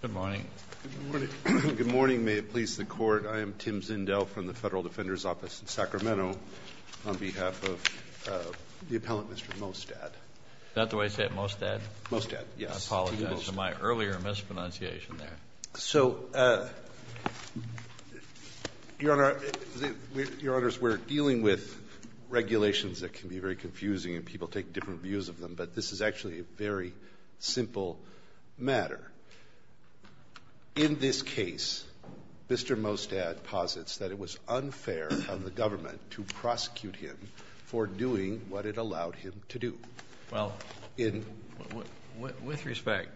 Good morning. May it please the Court, I am Tim Zindel from the Federal Defender's Office in Sacramento on behalf of the appellant Mr. Mostad. Is that the way you say it, Mostad? Mostad, yes. I apologize for my earlier mispronunciation there. So, Your Honor, we're dealing with regulations that can be very confusing and people take different views of them, but this is actually a very simple matter. In this case, Mr. Mostad posits that it was unfair of the government to prosecute him for doing what it allowed him to do. Well, with respect,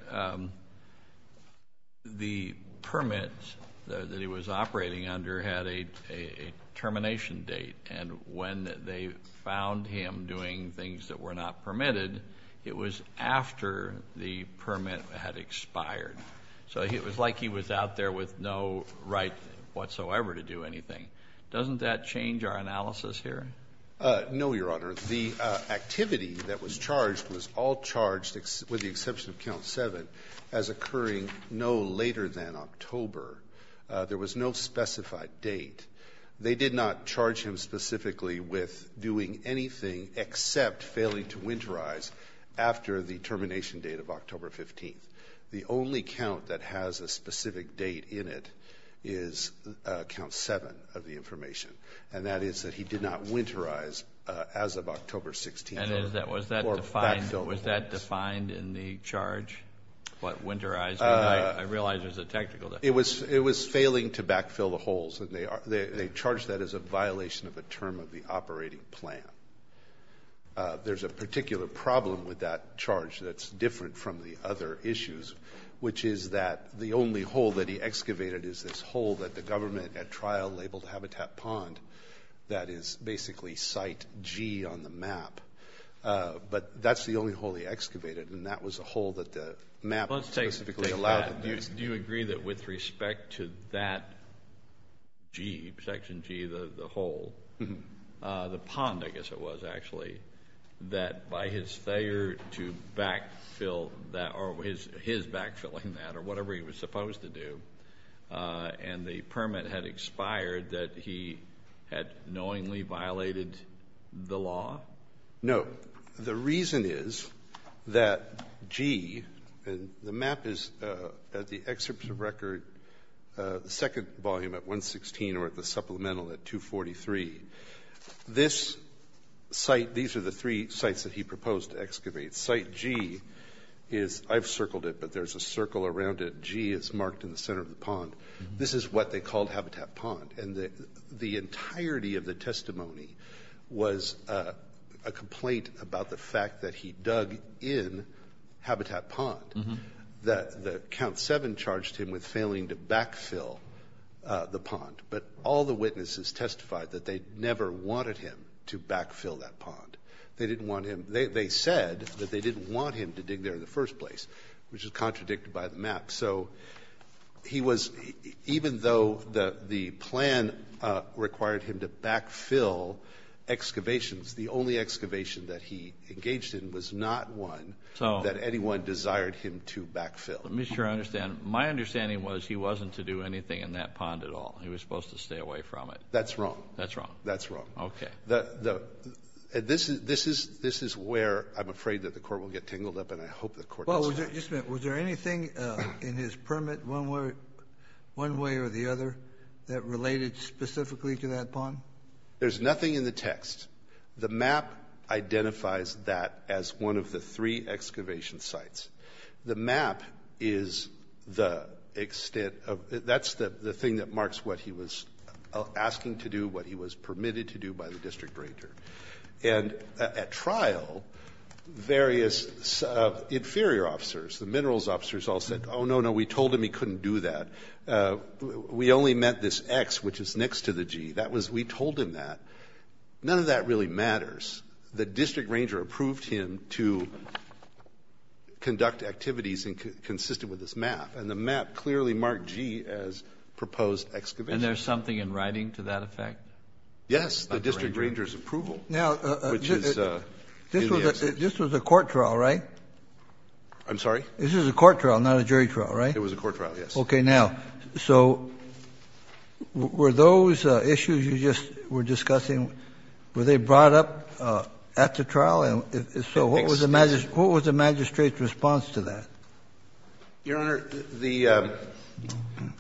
the permit that he was operating under had a termination date and when they found him doing things that were not permitted, it was after the permit had expired. So it was like he was out there with no right whatsoever to do anything. Doesn't that change our analysis here? No, Your Honor. The activity that was charged was all charged, with the exception of Count 7, as occurring no later than October. There was no specified date. They did not charge him specifically with doing anything except failing to winterize after the termination date of October 15th. The only count that has a specific date in it is Count 7 of the information, and that is that he did not winterize as of October 16th or backfill the holes. And was that defined in the charge? What, winterize? I realize there's a technical difference. It was failing to backfill the holes, and they charged that as a violation of a term of the operating plan. There's a particular problem with that charge that's different from the other issues, which is that the only hole that he excavated is this hole that the government at trial labeled Habitat Pond that is basically Site G on the map. But that's the only hole he excavated, and that was a hole that the map specifically allowed him to use. Do you agree that with respect to that G, Section G, the hole, the pond, I guess it was, actually, that by his failure to backfill that, or his backfilling that, or whatever he was supposed to do, and the permit had expired, that he had knowingly violated the law? No. The reason is that G, and the map is at the excerpt of record, the second volume at 116 or at the supplemental at 243. This site, these are the three sites that he proposed to excavate. Site G is, I've circled it, but there's a circle around it. G is marked in the center of the pond. This is what they called Habitat Pond. And the entirety of the a complaint about the fact that he dug in Habitat Pond, that the Count 7 charged him with failing to backfill the pond. But all the witnesses testified that they never wanted him to backfill that pond. They didn't want him to. They said that they didn't want him to dig there in the first place, which is contradicted by the map. So he was, even though the plan required him to backfill excavations, the only excavation that he engaged in was not one that anyone desired him to backfill. Let me make sure I understand. My understanding was he wasn't to do anything in that pond at all. He was supposed to stay away from it. That's wrong. That's wrong. That's wrong. Okay. This is where I'm afraid that the Court will get tangled up, and I hope the Court does not. Well, just a minute. Was there anything in his permit, one way or the other, that related specifically to that pond? There's nothing in the text. The map identifies that as one of the three excavation sites. The map is the extent of the thing that marks what he was asking to do, what he was permitted to do by the district ranger. And at trial, various inferior officers, the minerals officers, all said, oh, no, no. We told him he couldn't do that. We only met this X, which is next to the G. That was we told him that. None of that really matters. The district ranger approved him to conduct activities consistent with this map, and the map clearly marked G as proposed excavation. And there's something in writing to that effect? Yes, the district ranger's approval, which is in the excavation. This was a court trial, right? I'm sorry? This was a court trial, not a jury trial, right? It was a court trial, yes. Okay. Now, so were those issues you just were discussing, were they brought up at the trial? So what was the magistrate's response to that? Your Honor, the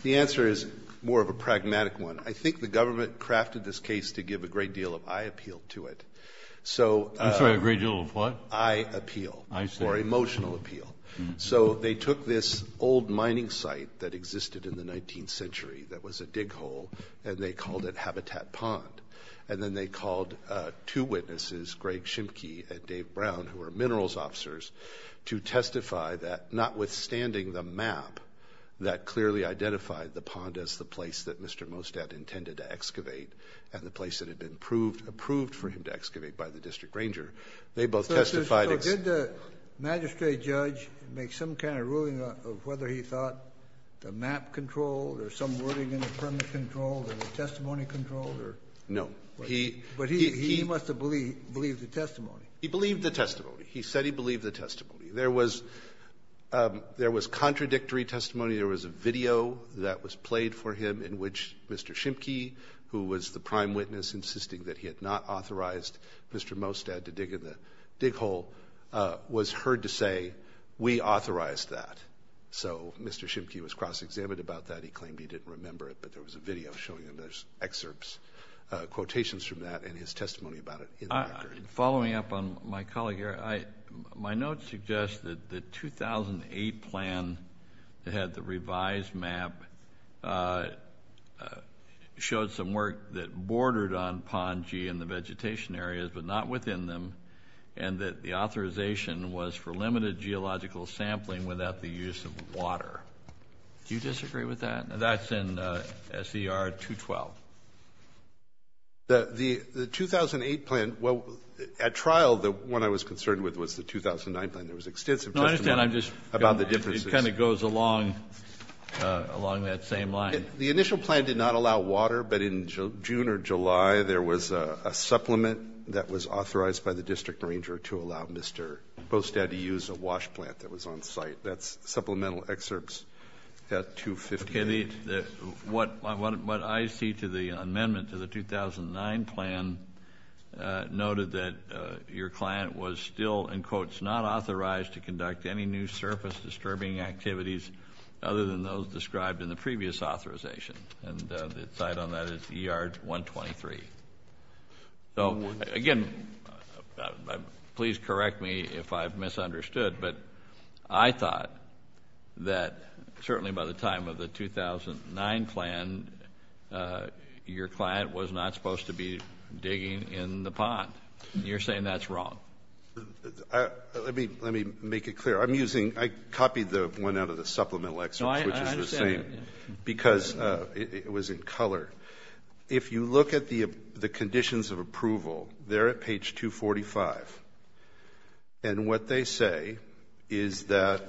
answer is more of a pragmatic one. I think the government crafted this case to give a great deal of eye appeal to it. So the great deal of what? Eye appeal or emotional appeal. So they took this old mining site that existed in the 19th century that was a dig hole, and they called it Habitat Pond. And then they called two witnesses, Greg Shimkey and Dave Brown, who were minerals officers, to testify that notwithstanding the map that clearly identified the pond as the place that Mr. Mostad intended to excavate and the place that had been approved for him to excavate by the district ranger, they both testified So did the magistrate judge make some kind of ruling of whether he thought the map controlled or some wording in the premise controlled or the testimony controlled? No. But he must have believed the testimony. He believed the testimony. He said he believed the testimony. There was contradictory testimony. There was a video that was played for him in which Mr. Shimkey, who was the prime was heard to say, we authorized that. So Mr. Shimkey was cross-examined about that. He claimed he didn't remember it, but there was a video showing him those excerpts, quotations from that, and his testimony about it in the record. Following up on my colleague here, my notes suggest that the 2008 plan that had the revised map showed some work that bordered on Pond G and the vegetation areas, but not within them, and that the authorization was for limited geological sampling without the use of water. Do you disagree with that? That's in S.E.R. 212. The 2008 plan, well, at trial, the one I was concerned with was the 2009 plan. There was extensive testimony about the differences. No, I understand. I'm just, it kind of goes along that same line. The initial plan did not allow water, but in June or July, there was a supplement that was authorized by the district ranger to allow Mr. Bostad to use a wash plant that was on site. That's supplemental excerpts at 250. What I see to the amendment to the 2009 plan noted that your client was still, in quotes, not authorized to conduct any new surface disturbing activities other than those described in the previous authorization, and the cite on that is ER 123. So, again, please correct me if I've misunderstood, but I thought that certainly by the time of the 2009 plan, your client was not supposed to be digging in the pond, and you're saying that's wrong. Let me make it clear. I copied the one out of the supplemental excerpts, which is the same, because it was in color. If you look at the conditions of approval, they're at page 245, and what they say is that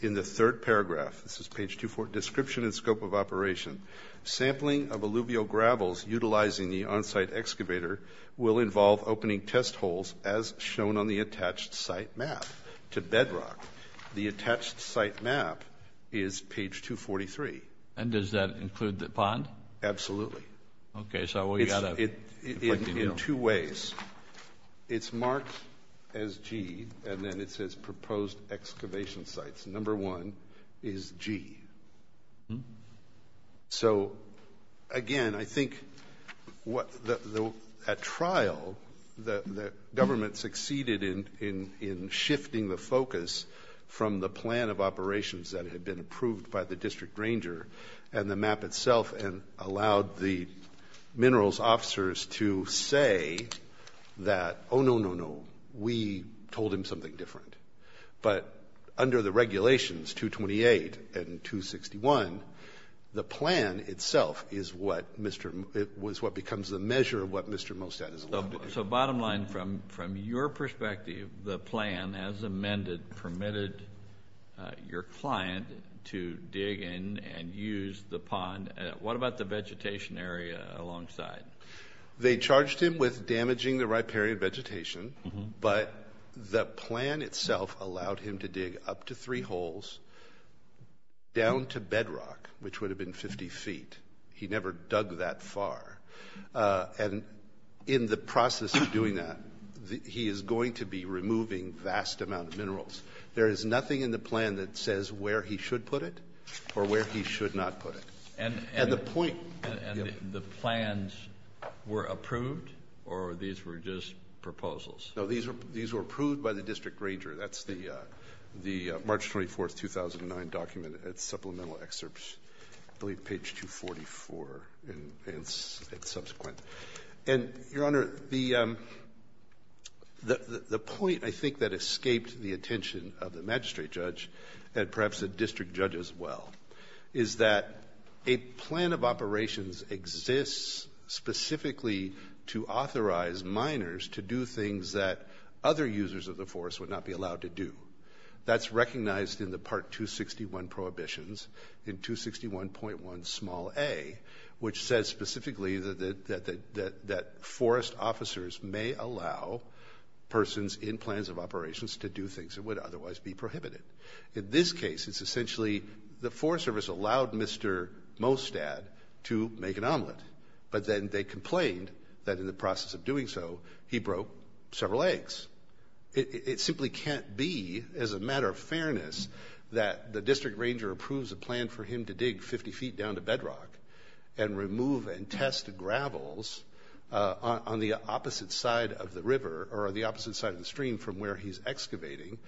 in the third paragraph, this is page 24, description and scope of operation, sampling of alluvial gravels utilizing the on-site excavator will involve opening test holes as shown on the attached site map to bedrock. The attached site map is page 243. And does that include the pond? Absolutely. Okay, so we've got to... In two ways. It's marked as G, and then it says proposed excavation sites. Number one is G. So, again, I think at trial, the government succeeded in shifting the focus from the plan of operations that had been approved by the district ranger and the map itself and allowed the minerals officers to say that, oh, no, no, no, we told him something different. But under the regulations, 228 and 261, the plan itself is what becomes the measure of what Mr. Mostad is allowed to do. So bottom line, from your perspective, the plan, as amended, permitted your client to dig in and use the pond. What about the vegetation area alongside? They charged him with damaging the riparian vegetation, but the plan itself allowed him to dig up to three holes down to bedrock, which would have been 50 feet. He never dug that far. And in the process of doing that, he is going to be removing vast amount of minerals. There is nothing in the plan that says where he should put it or where he should not put it. And the point... And the plans were approved, or these were just proposals? No, these were approved by the district ranger. That's the March 24, 2009 document. And it's supplemental excerpts, I believe, page 244 and subsequent. And, Your Honor, the point, I think, that escaped the attention of the magistrate judge and perhaps the district judge as well is that a plan of operations exists specifically to authorize miners to do things that other users of the forest would not be allowed to do. That's recognized in the Part 261 prohibitions in 261.1 small a, which says specifically that forest officers may allow persons in plans of operations to do things that would otherwise be prohibited. In this case, it's essentially the Forest Service allowed Mr. Mostad to make an omelet, but then they complained that in the process of doing so, he broke several eggs. It simply can't be, as a matter of fairness, that the district ranger approves a plan for him to dig 50 feet down to bedrock and remove and test gravels on the opposite side of the river or the opposite side of the stream from where he's excavating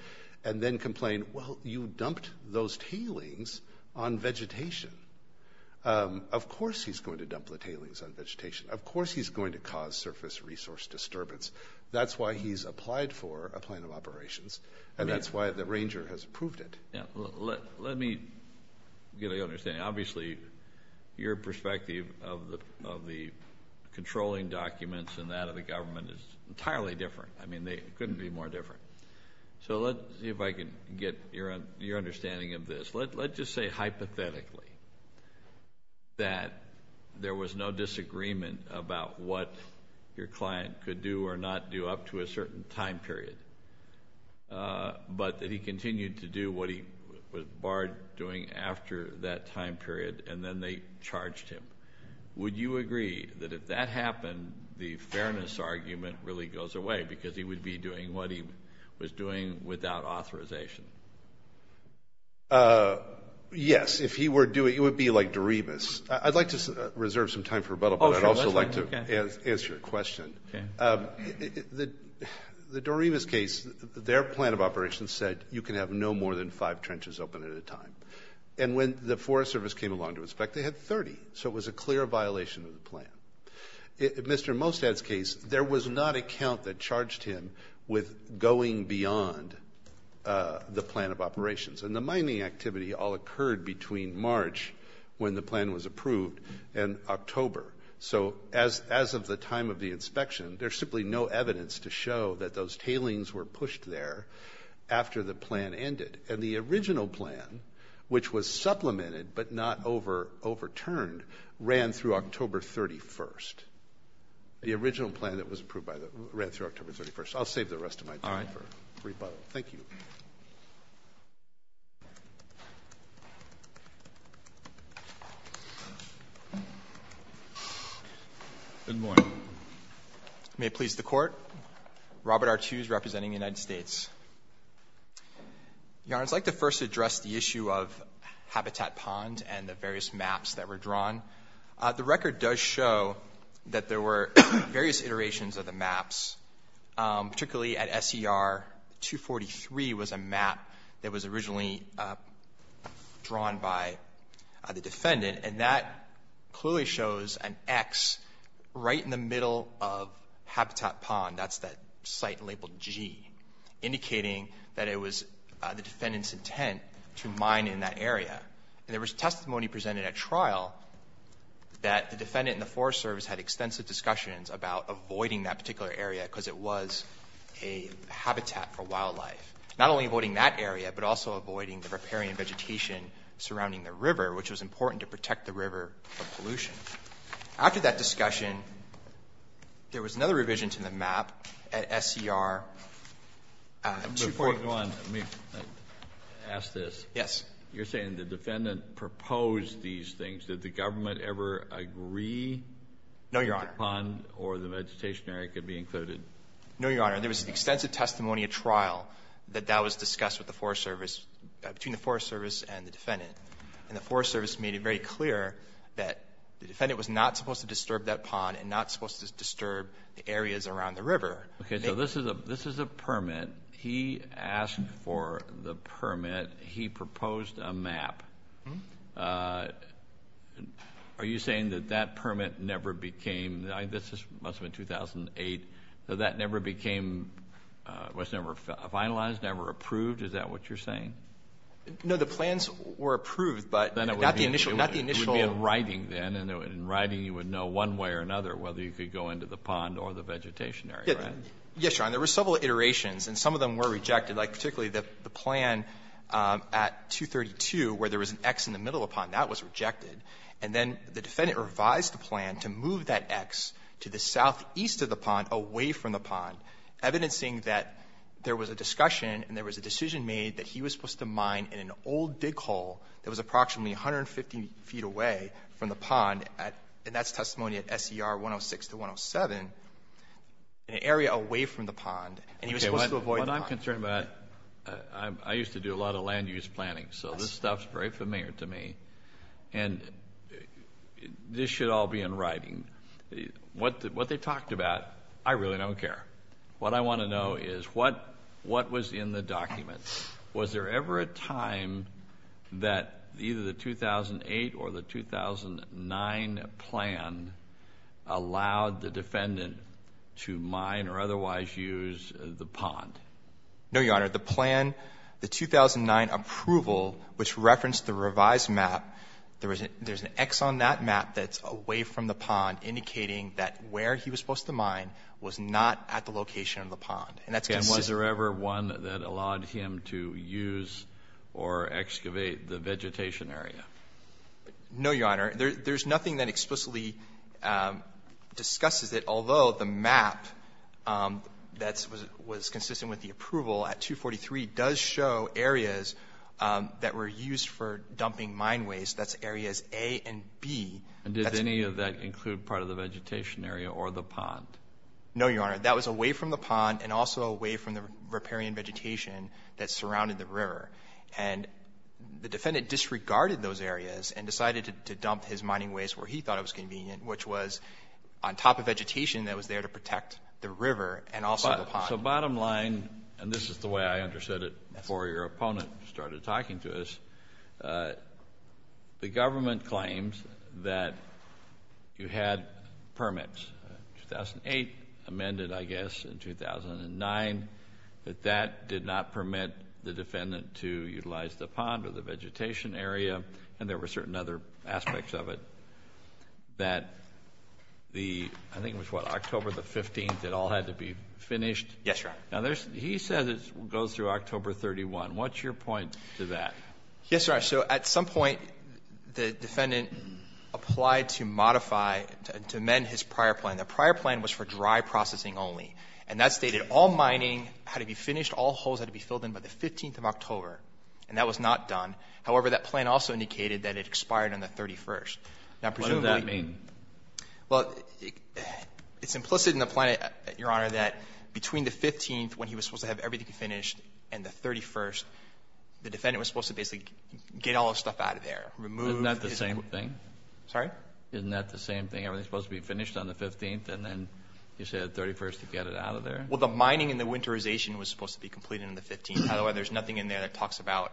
and then complain, well, you dumped those tailings on vegetation. Of course he's going to dump the tailings on vegetation. Of course he's going to cause surface resource disturbance. That's why he's applied for a plan of operations, and that's why the ranger has approved it. Let me get your understanding. Obviously, your perspective of the controlling documents and that of the government is entirely different. I mean, they couldn't be more different. So let's see if I can get your understanding of this. Let's just say hypothetically that there was no disagreement about what your client could do or not do up to a certain time period, but that he continued to do what he was barred doing after that time period, and then they charged him. Would you agree that if that happened, the fairness argument really goes away because he would be doing what he was doing without authorization? Yes. If he were doing, it would be like Dorebus. I'd like to reserve some time for rebuttal, but I'd also like to answer your question. The Dorebus case, their plan of operations said you can have no more than five trenches open at a time. And when the Forest Service came along to inspect, they had 30. So it was a clear violation of the plan. Mr. Mostad's case, there was not a count that charged him with going beyond the plan of operations. And the mining activity all occurred between March, when the plan was approved, and October. So as of the time of the inspection, there's simply no evidence to show that those tailings were pushed there after the plan ended. And the original plan, which was supplemented but not overturned, ran through October 31st. The original plan that was approved by the – ran through October 31st. I'll save the rest of my time for rebuttal. Thank you. Robert R. Tews, representing the United States. Your Honor, I'd like to first address the issue of Habitat Pond and the various maps that were drawn. The record does show that there were various iterations of the maps, particularly at SCR 243 was a map that was originally drawn by the defendant. And that clearly shows an X right in the middle of Habitat Pond. That's that site labeled G, indicating that it was the defendant's intent to mine in that area. And there was testimony presented at trial that the defendant and the Forest Service had extensive discussions about avoiding that particular area because it was a habitat for wildlife. Not only avoiding that area, but also avoiding the riparian vegetation surrounding the river, which was important to protect the river from pollution. After that discussion, there was another revision to the map at SCR 243. Before going on, let me ask this. Yes. You're saying the defendant proposed these things. Did the government ever agree that the pond or the vegetation area could be included? No, Your Honor. There was extensive testimony at trial that that was discussed with the Forest Service between the Forest Service and the defendant. And the Forest Service made it very clear that the defendant was not supposed to disturb that pond and not supposed to disturb the areas around the river. Okay. So this is a permit. He asked for the permit. He proposed a map. Are you saying that that permit never became, this must have been 2008, that that never became, was never finalized, never approved? Is that what you're saying? No, the plans were approved, but not the initial. It would be in writing then, and in writing you would know one way or another whether you could go into the pond or the vegetation area, right? Yes, Your Honor. There were several iterations, and some of them were rejected. Like, particularly the plan at 232 where there was an X in the middle of the pond. That was rejected. And then the defendant revised the plan to move that X to the southeast of the pond away from the pond, evidencing that there was a discussion and there was a decision made that he was supposed to mine in an old dig hole that was approximately 150 feet away from the pond, and that's testimony at SCR 106 to 107, an area away from the pond, and he was supposed to avoid the pond. I'm concerned about... I used to do a lot of land use planning, so this stuff's very familiar to me, and this should all be in writing. What they talked about, I really don't care. What I want to know is, what was in the document? Was there ever a time that either the 2008 or the 2009 plan allowed the defendant to use or excavate the vegetation area of the pond? No, Your Honor. The plan, the 2009 approval, which referenced the revised map, there's an X on that map that's away from the pond, indicating that where he was supposed to mine was not at the location of the pond, and that's considered... And was there ever one that allowed him to use or excavate the vegetation area? No, Your Honor. There's nothing that explicitly discusses it, although the map that was consistent with the approval at 243 does show areas that were used for dumping mine waste. That's areas A and B. And did any of that include part of the vegetation area or the pond? No, Your Honor. That was away from the pond and also away from the riparian vegetation that surrounded the river. And the defendant disregarded those areas and decided to dump his mining waste where he thought it was convenient, which was on top of vegetation that was there to protect the river and also the pond. So bottom line, and this is the way I understood it before your opponent started talking to us, the government claims that you had permits, 2008 amended, I guess, in 2009, but that did not permit the defendant to utilize the pond or the vegetation area, and there were certain other aspects of it, that the... I think it was, what, October the 15th it all had to be finished? Yes, Your Honor. Now there's... he says it goes through October 31. What's your point to that? Yes, Your Honor. So at some point, the defendant applied to modify, to amend his prior plan. The prior plan was for dry processing only. And that stated all mining had to be finished, all holes had to be filled in by the 15th of October. And that was not done. However, that plan also indicated that it expired on the 31st. Now presumably... What does that mean? Well, it's implicit in the plan, Your Honor, that between the 15th, when he was supposed to have everything finished, and the 31st, the defendant was supposed to basically get all his stuff out of there, remove... Isn't that the same thing? Sorry? Isn't that the same thing? Everything's supposed to be finished on the 15th, and then you say the 31st to get it out of there? Well, the mining and the winterization was supposed to be completed on the 15th. However, there's nothing in there that talks about,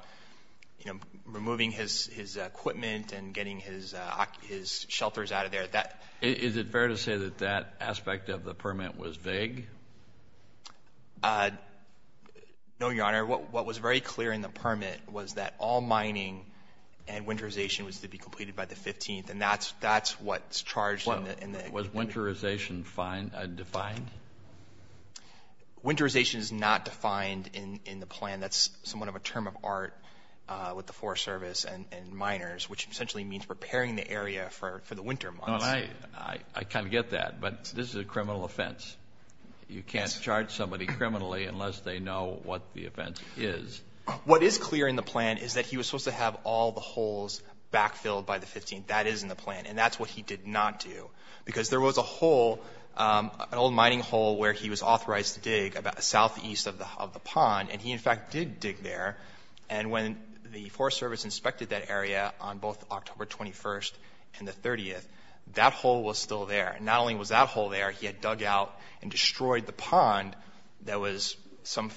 you know, removing his equipment and getting his shelters out of there. That... Is it fair to say that that aspect of the permit was vague? No, Your Honor. What was very clear in the permit was that all mining and winterization was to be completed by the 15th. And that's what's charged in the... Was winterization defined? Winterization is not defined in the plan. That's somewhat of a term of art with the Forest Service and miners, which essentially means preparing the area for the winter months. I kind of get that, but this is a criminal offense. You can't charge somebody criminally unless they know what the offense is. What is clear in the plan is that he was supposed to have all the holes backfilled by the 15th. That is in the plan. And that's what he did not do, because there was a hole, an old mining hole, where he was authorized to dig about southeast of the pond. And he, in fact, did dig there. And when the Forest Service inspected that area on both October 21st and the 30th, that hole was still there. Not only was that hole there, he had dug out and destroyed the pond that was some...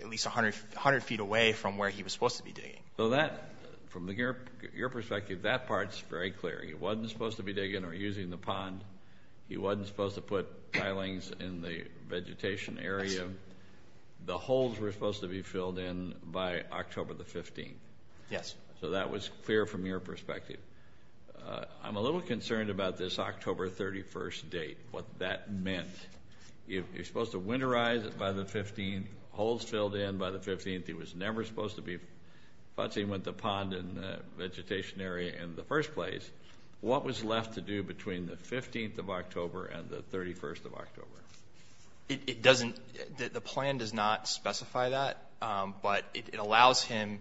at least 100 feet away from where he was supposed to be digging. So that, from your perspective, that part is very clear. He wasn't supposed to be digging or using the pond. He wasn't supposed to put tilings in the vegetation area. The holes were supposed to be filled in by October the 15th. Yes. So that was clear from your perspective. I'm a little concerned about this October 31st date, what that meant. You're supposed to winterize it by the 15th, holes filled in by the 15th. He was never supposed to be putting the pond in the vegetation area in the first place. What was left to do between the 15th of October and the 31st of October? It doesn't... the plan does not specify that. But it allows him,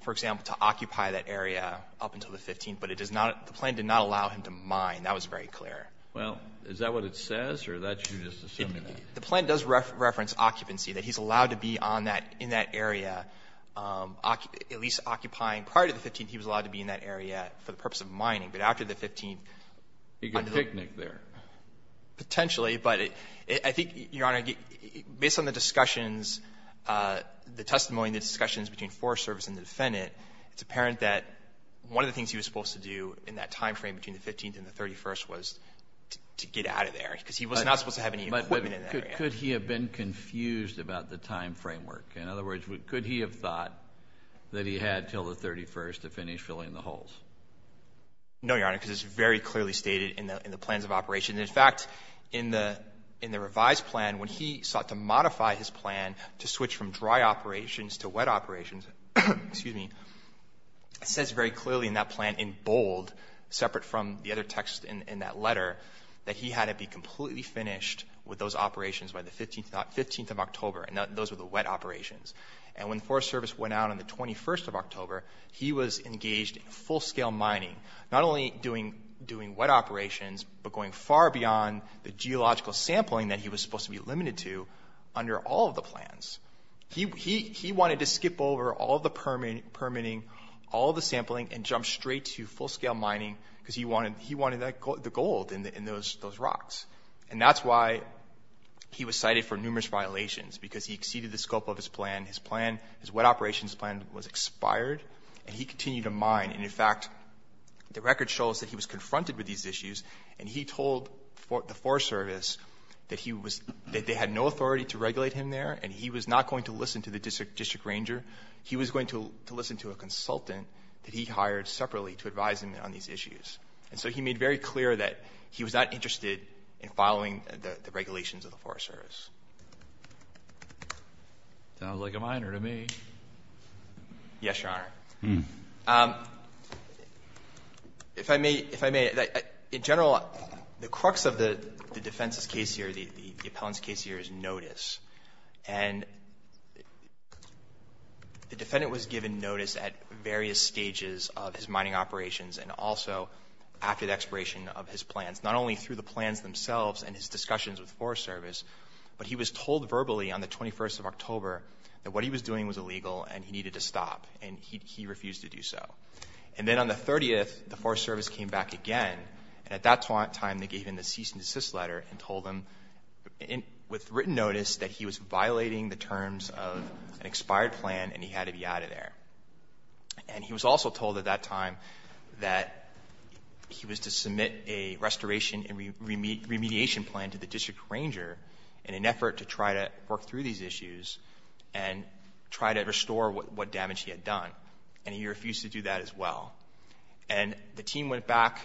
for example, to occupy that area up until the 15th. But it does not... the plan did not allow him to mine. That was very clear. Well, is that what it says, or are you just assuming that? The plan does reference occupancy, that he's allowed to be on that — in that area, at least occupying. Prior to the 15th, he was allowed to be in that area for the purpose of mining. But after the 15th... He could picnic there. Potentially. But I think, Your Honor, based on the discussions, the testimony and the discussions between Forest Service and the defendant, it's apparent that one of the things he was supposed to do in that time frame between the 15th and the 31st was to get out of there. Because he was not supposed to have any equipment in that area. But could he have been confused about the time framework? In other words, could he have thought that he had until the 31st to finish filling the holes? No, Your Honor, because it's very clearly stated in the plans of operation. In fact, in the revised plan, when he sought to modify his plan to switch from dry operations to wet operations, it says very clearly in that plan, in bold, separate from the other text in that letter, that he had to be completely finished with those operations by the 15th of October. And those were the wet operations. And when the Forest Service went out on the 21st of October, he was engaged in full scale mining. Not only doing wet operations, but going far beyond the geological sampling that he was supposed to be limited to under all of the plans. He wanted to skip over all the permitting, all the sampling, and jump straight to full scale mining, because he wanted the gold in those rocks. And that's why he was cited for numerous violations, because he exceeded the scope of his plan. His plan, his wet operations plan, was expired, and he continued to mine. And in fact, the record shows that he was confronted with these issues, and he told the Forest Service that they had no authority to regulate him there, and he was not going to listen to the district ranger. He was going to listen to a consultant that he hired separately to advise him on these issues. And so he made very clear that he was not interested in following the regulations of the Forest Service. Breyer, sounds like a minor to me. Yes, Your Honor. If I may, if I may, in general, the crux of the defense's case here, the appellant's case here, is notice. And the defendant was given notice at various stages of his mining operations, and also after the expiration of his plans, not only through the plans themselves and his discussions with the Forest Service, but he was told verbally on the 21st of October that what he was doing was illegal, and he needed to stop, and he refused to do so. And then on the 30th, the Forest Service came back again, and at that time, they gave him a cease and desist letter and told him, with written notice, that he was violating the terms of an expired plan, and he had to be out of there. And he was also told at that time that he was to submit a restoration and remediation plan to the district ranger in an effort to try to work through these issues and try to restore what damage he had done, and he refused to do that as well. And the team went back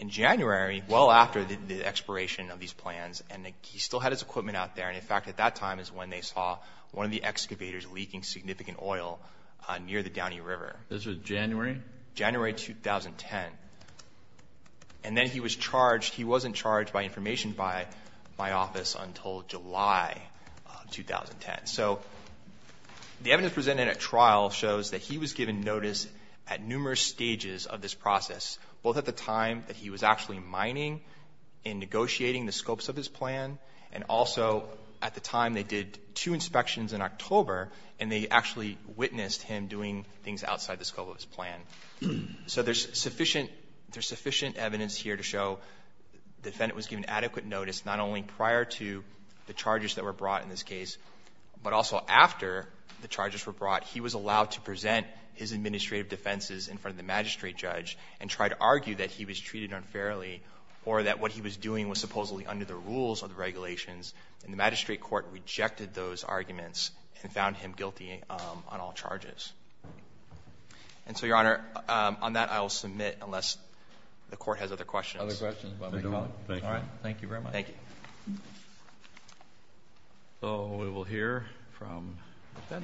in January, well after the expiration of these plans, and he still had his equipment out there. And in fact, at that time is when they saw one of the excavators leaking significant oil near the Downey River. This was January? January 2010. And then he was charged. He wasn't charged by information by my office until July 2010. So the evidence presented at trial shows that he was given notice at numerous stages of this process, both at the time that he was actually mining and negotiating the scopes of his plan, and also at the time they did two inspections in October, and they actually witnessed him doing things outside the scope of his plan. So there's sufficient evidence here to show the defendant was given adequate notice not only prior to the charges that were brought in this case, but also after the charges were brought, he was allowed to present his administrative defenses in front of the magistrate judge and try to argue that he was treated unfairly or that what he was doing was supposedly under the rules or the regulations, and the magistrate court rejected those arguments and found him guilty on all charges. And so, Your Honor, on that, I will submit unless the court has other questions. Other questions? All right. Thank you very much. Thank you. So we will hear from Mr. Mostad.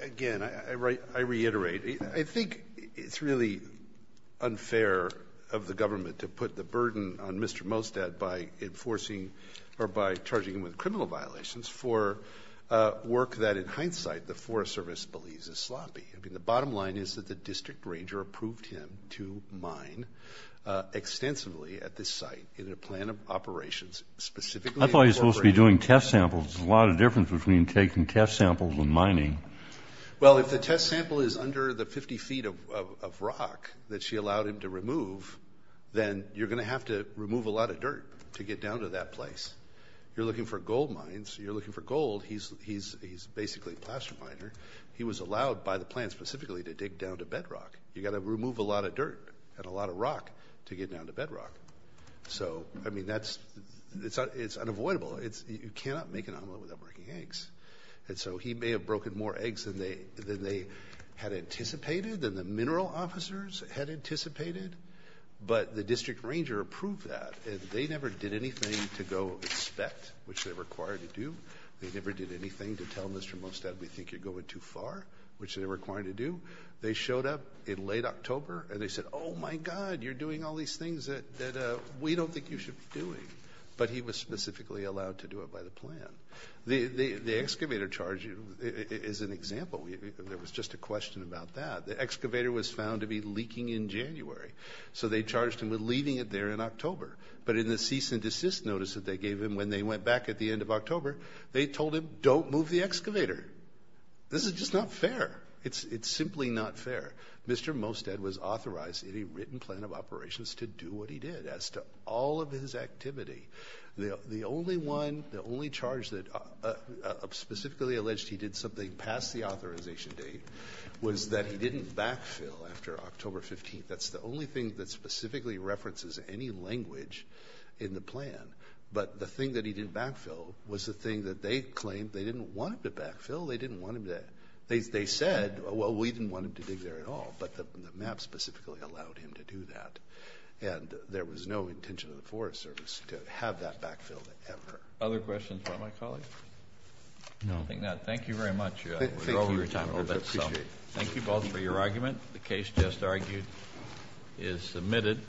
Again, I reiterate, I think it's really unfair of the government to put the burden on Mr. Mostad by enforcing or by charging him with criminal violations for work that in hindsight the Forest Service believes is sloppy. I mean, the bottom line is that the district ranger approved him to mine extensively at this site in a plan of operations, specifically in Fort Brady. I thought he was supposed to be doing test samples. There's a lot of difference between taking test samples and mining. Well, if the test sample is under the 50 feet of rock that she allowed him to remove, then you're going to have to remove a lot of dirt to get down to that place. You're looking for gold mines. You're looking for gold. He's basically a plaster miner. He was allowed by the plan specifically to dig down to bedrock. You got to remove a lot of dirt and a lot of rock to get down to bedrock. So I mean, it's unavoidable. You cannot make an omelet without breaking eggs. And so he may have broken more eggs than they had anticipated, than the mineral officers had anticipated. But the district ranger approved that, and they never did anything to go inspect, which they're required to do. They never did anything to tell Mr. Mostad we think you're going too far, which they're required to do. They showed up in late October, and they said, oh, my God, you're doing all these things that we don't think you should be doing. But he was specifically allowed to do it by the plan. The excavator charge is an example. There was just a question about that. The excavator was found to be leaking in January, so they charged him with leaving it there in October. But in the cease and desist notice that they gave him when they went back at the end of October, they told him, don't move the excavator. This is just not fair. It's simply not fair. Mr. Mostad was authorized in a written plan of operations to do what he did. As to all of his activity, the only one, the only charge that specifically alleged he did something past the authorization date was that he didn't backfill after October 15th. That's the only thing that specifically references any language in the plan. But the thing that he didn't backfill was the thing that they claimed they didn't want him to backfill. They didn't want him to. They said, well, we didn't want him to dig there at all. But the map specifically allowed him to do that. And there was no intention of the Forest Service to have that backfilled ever. Other questions about my colleague? No. I don't think not. Thank you very much. Thank you. I appreciate it. Thank you both for your argument. The case, just argued, is submitted.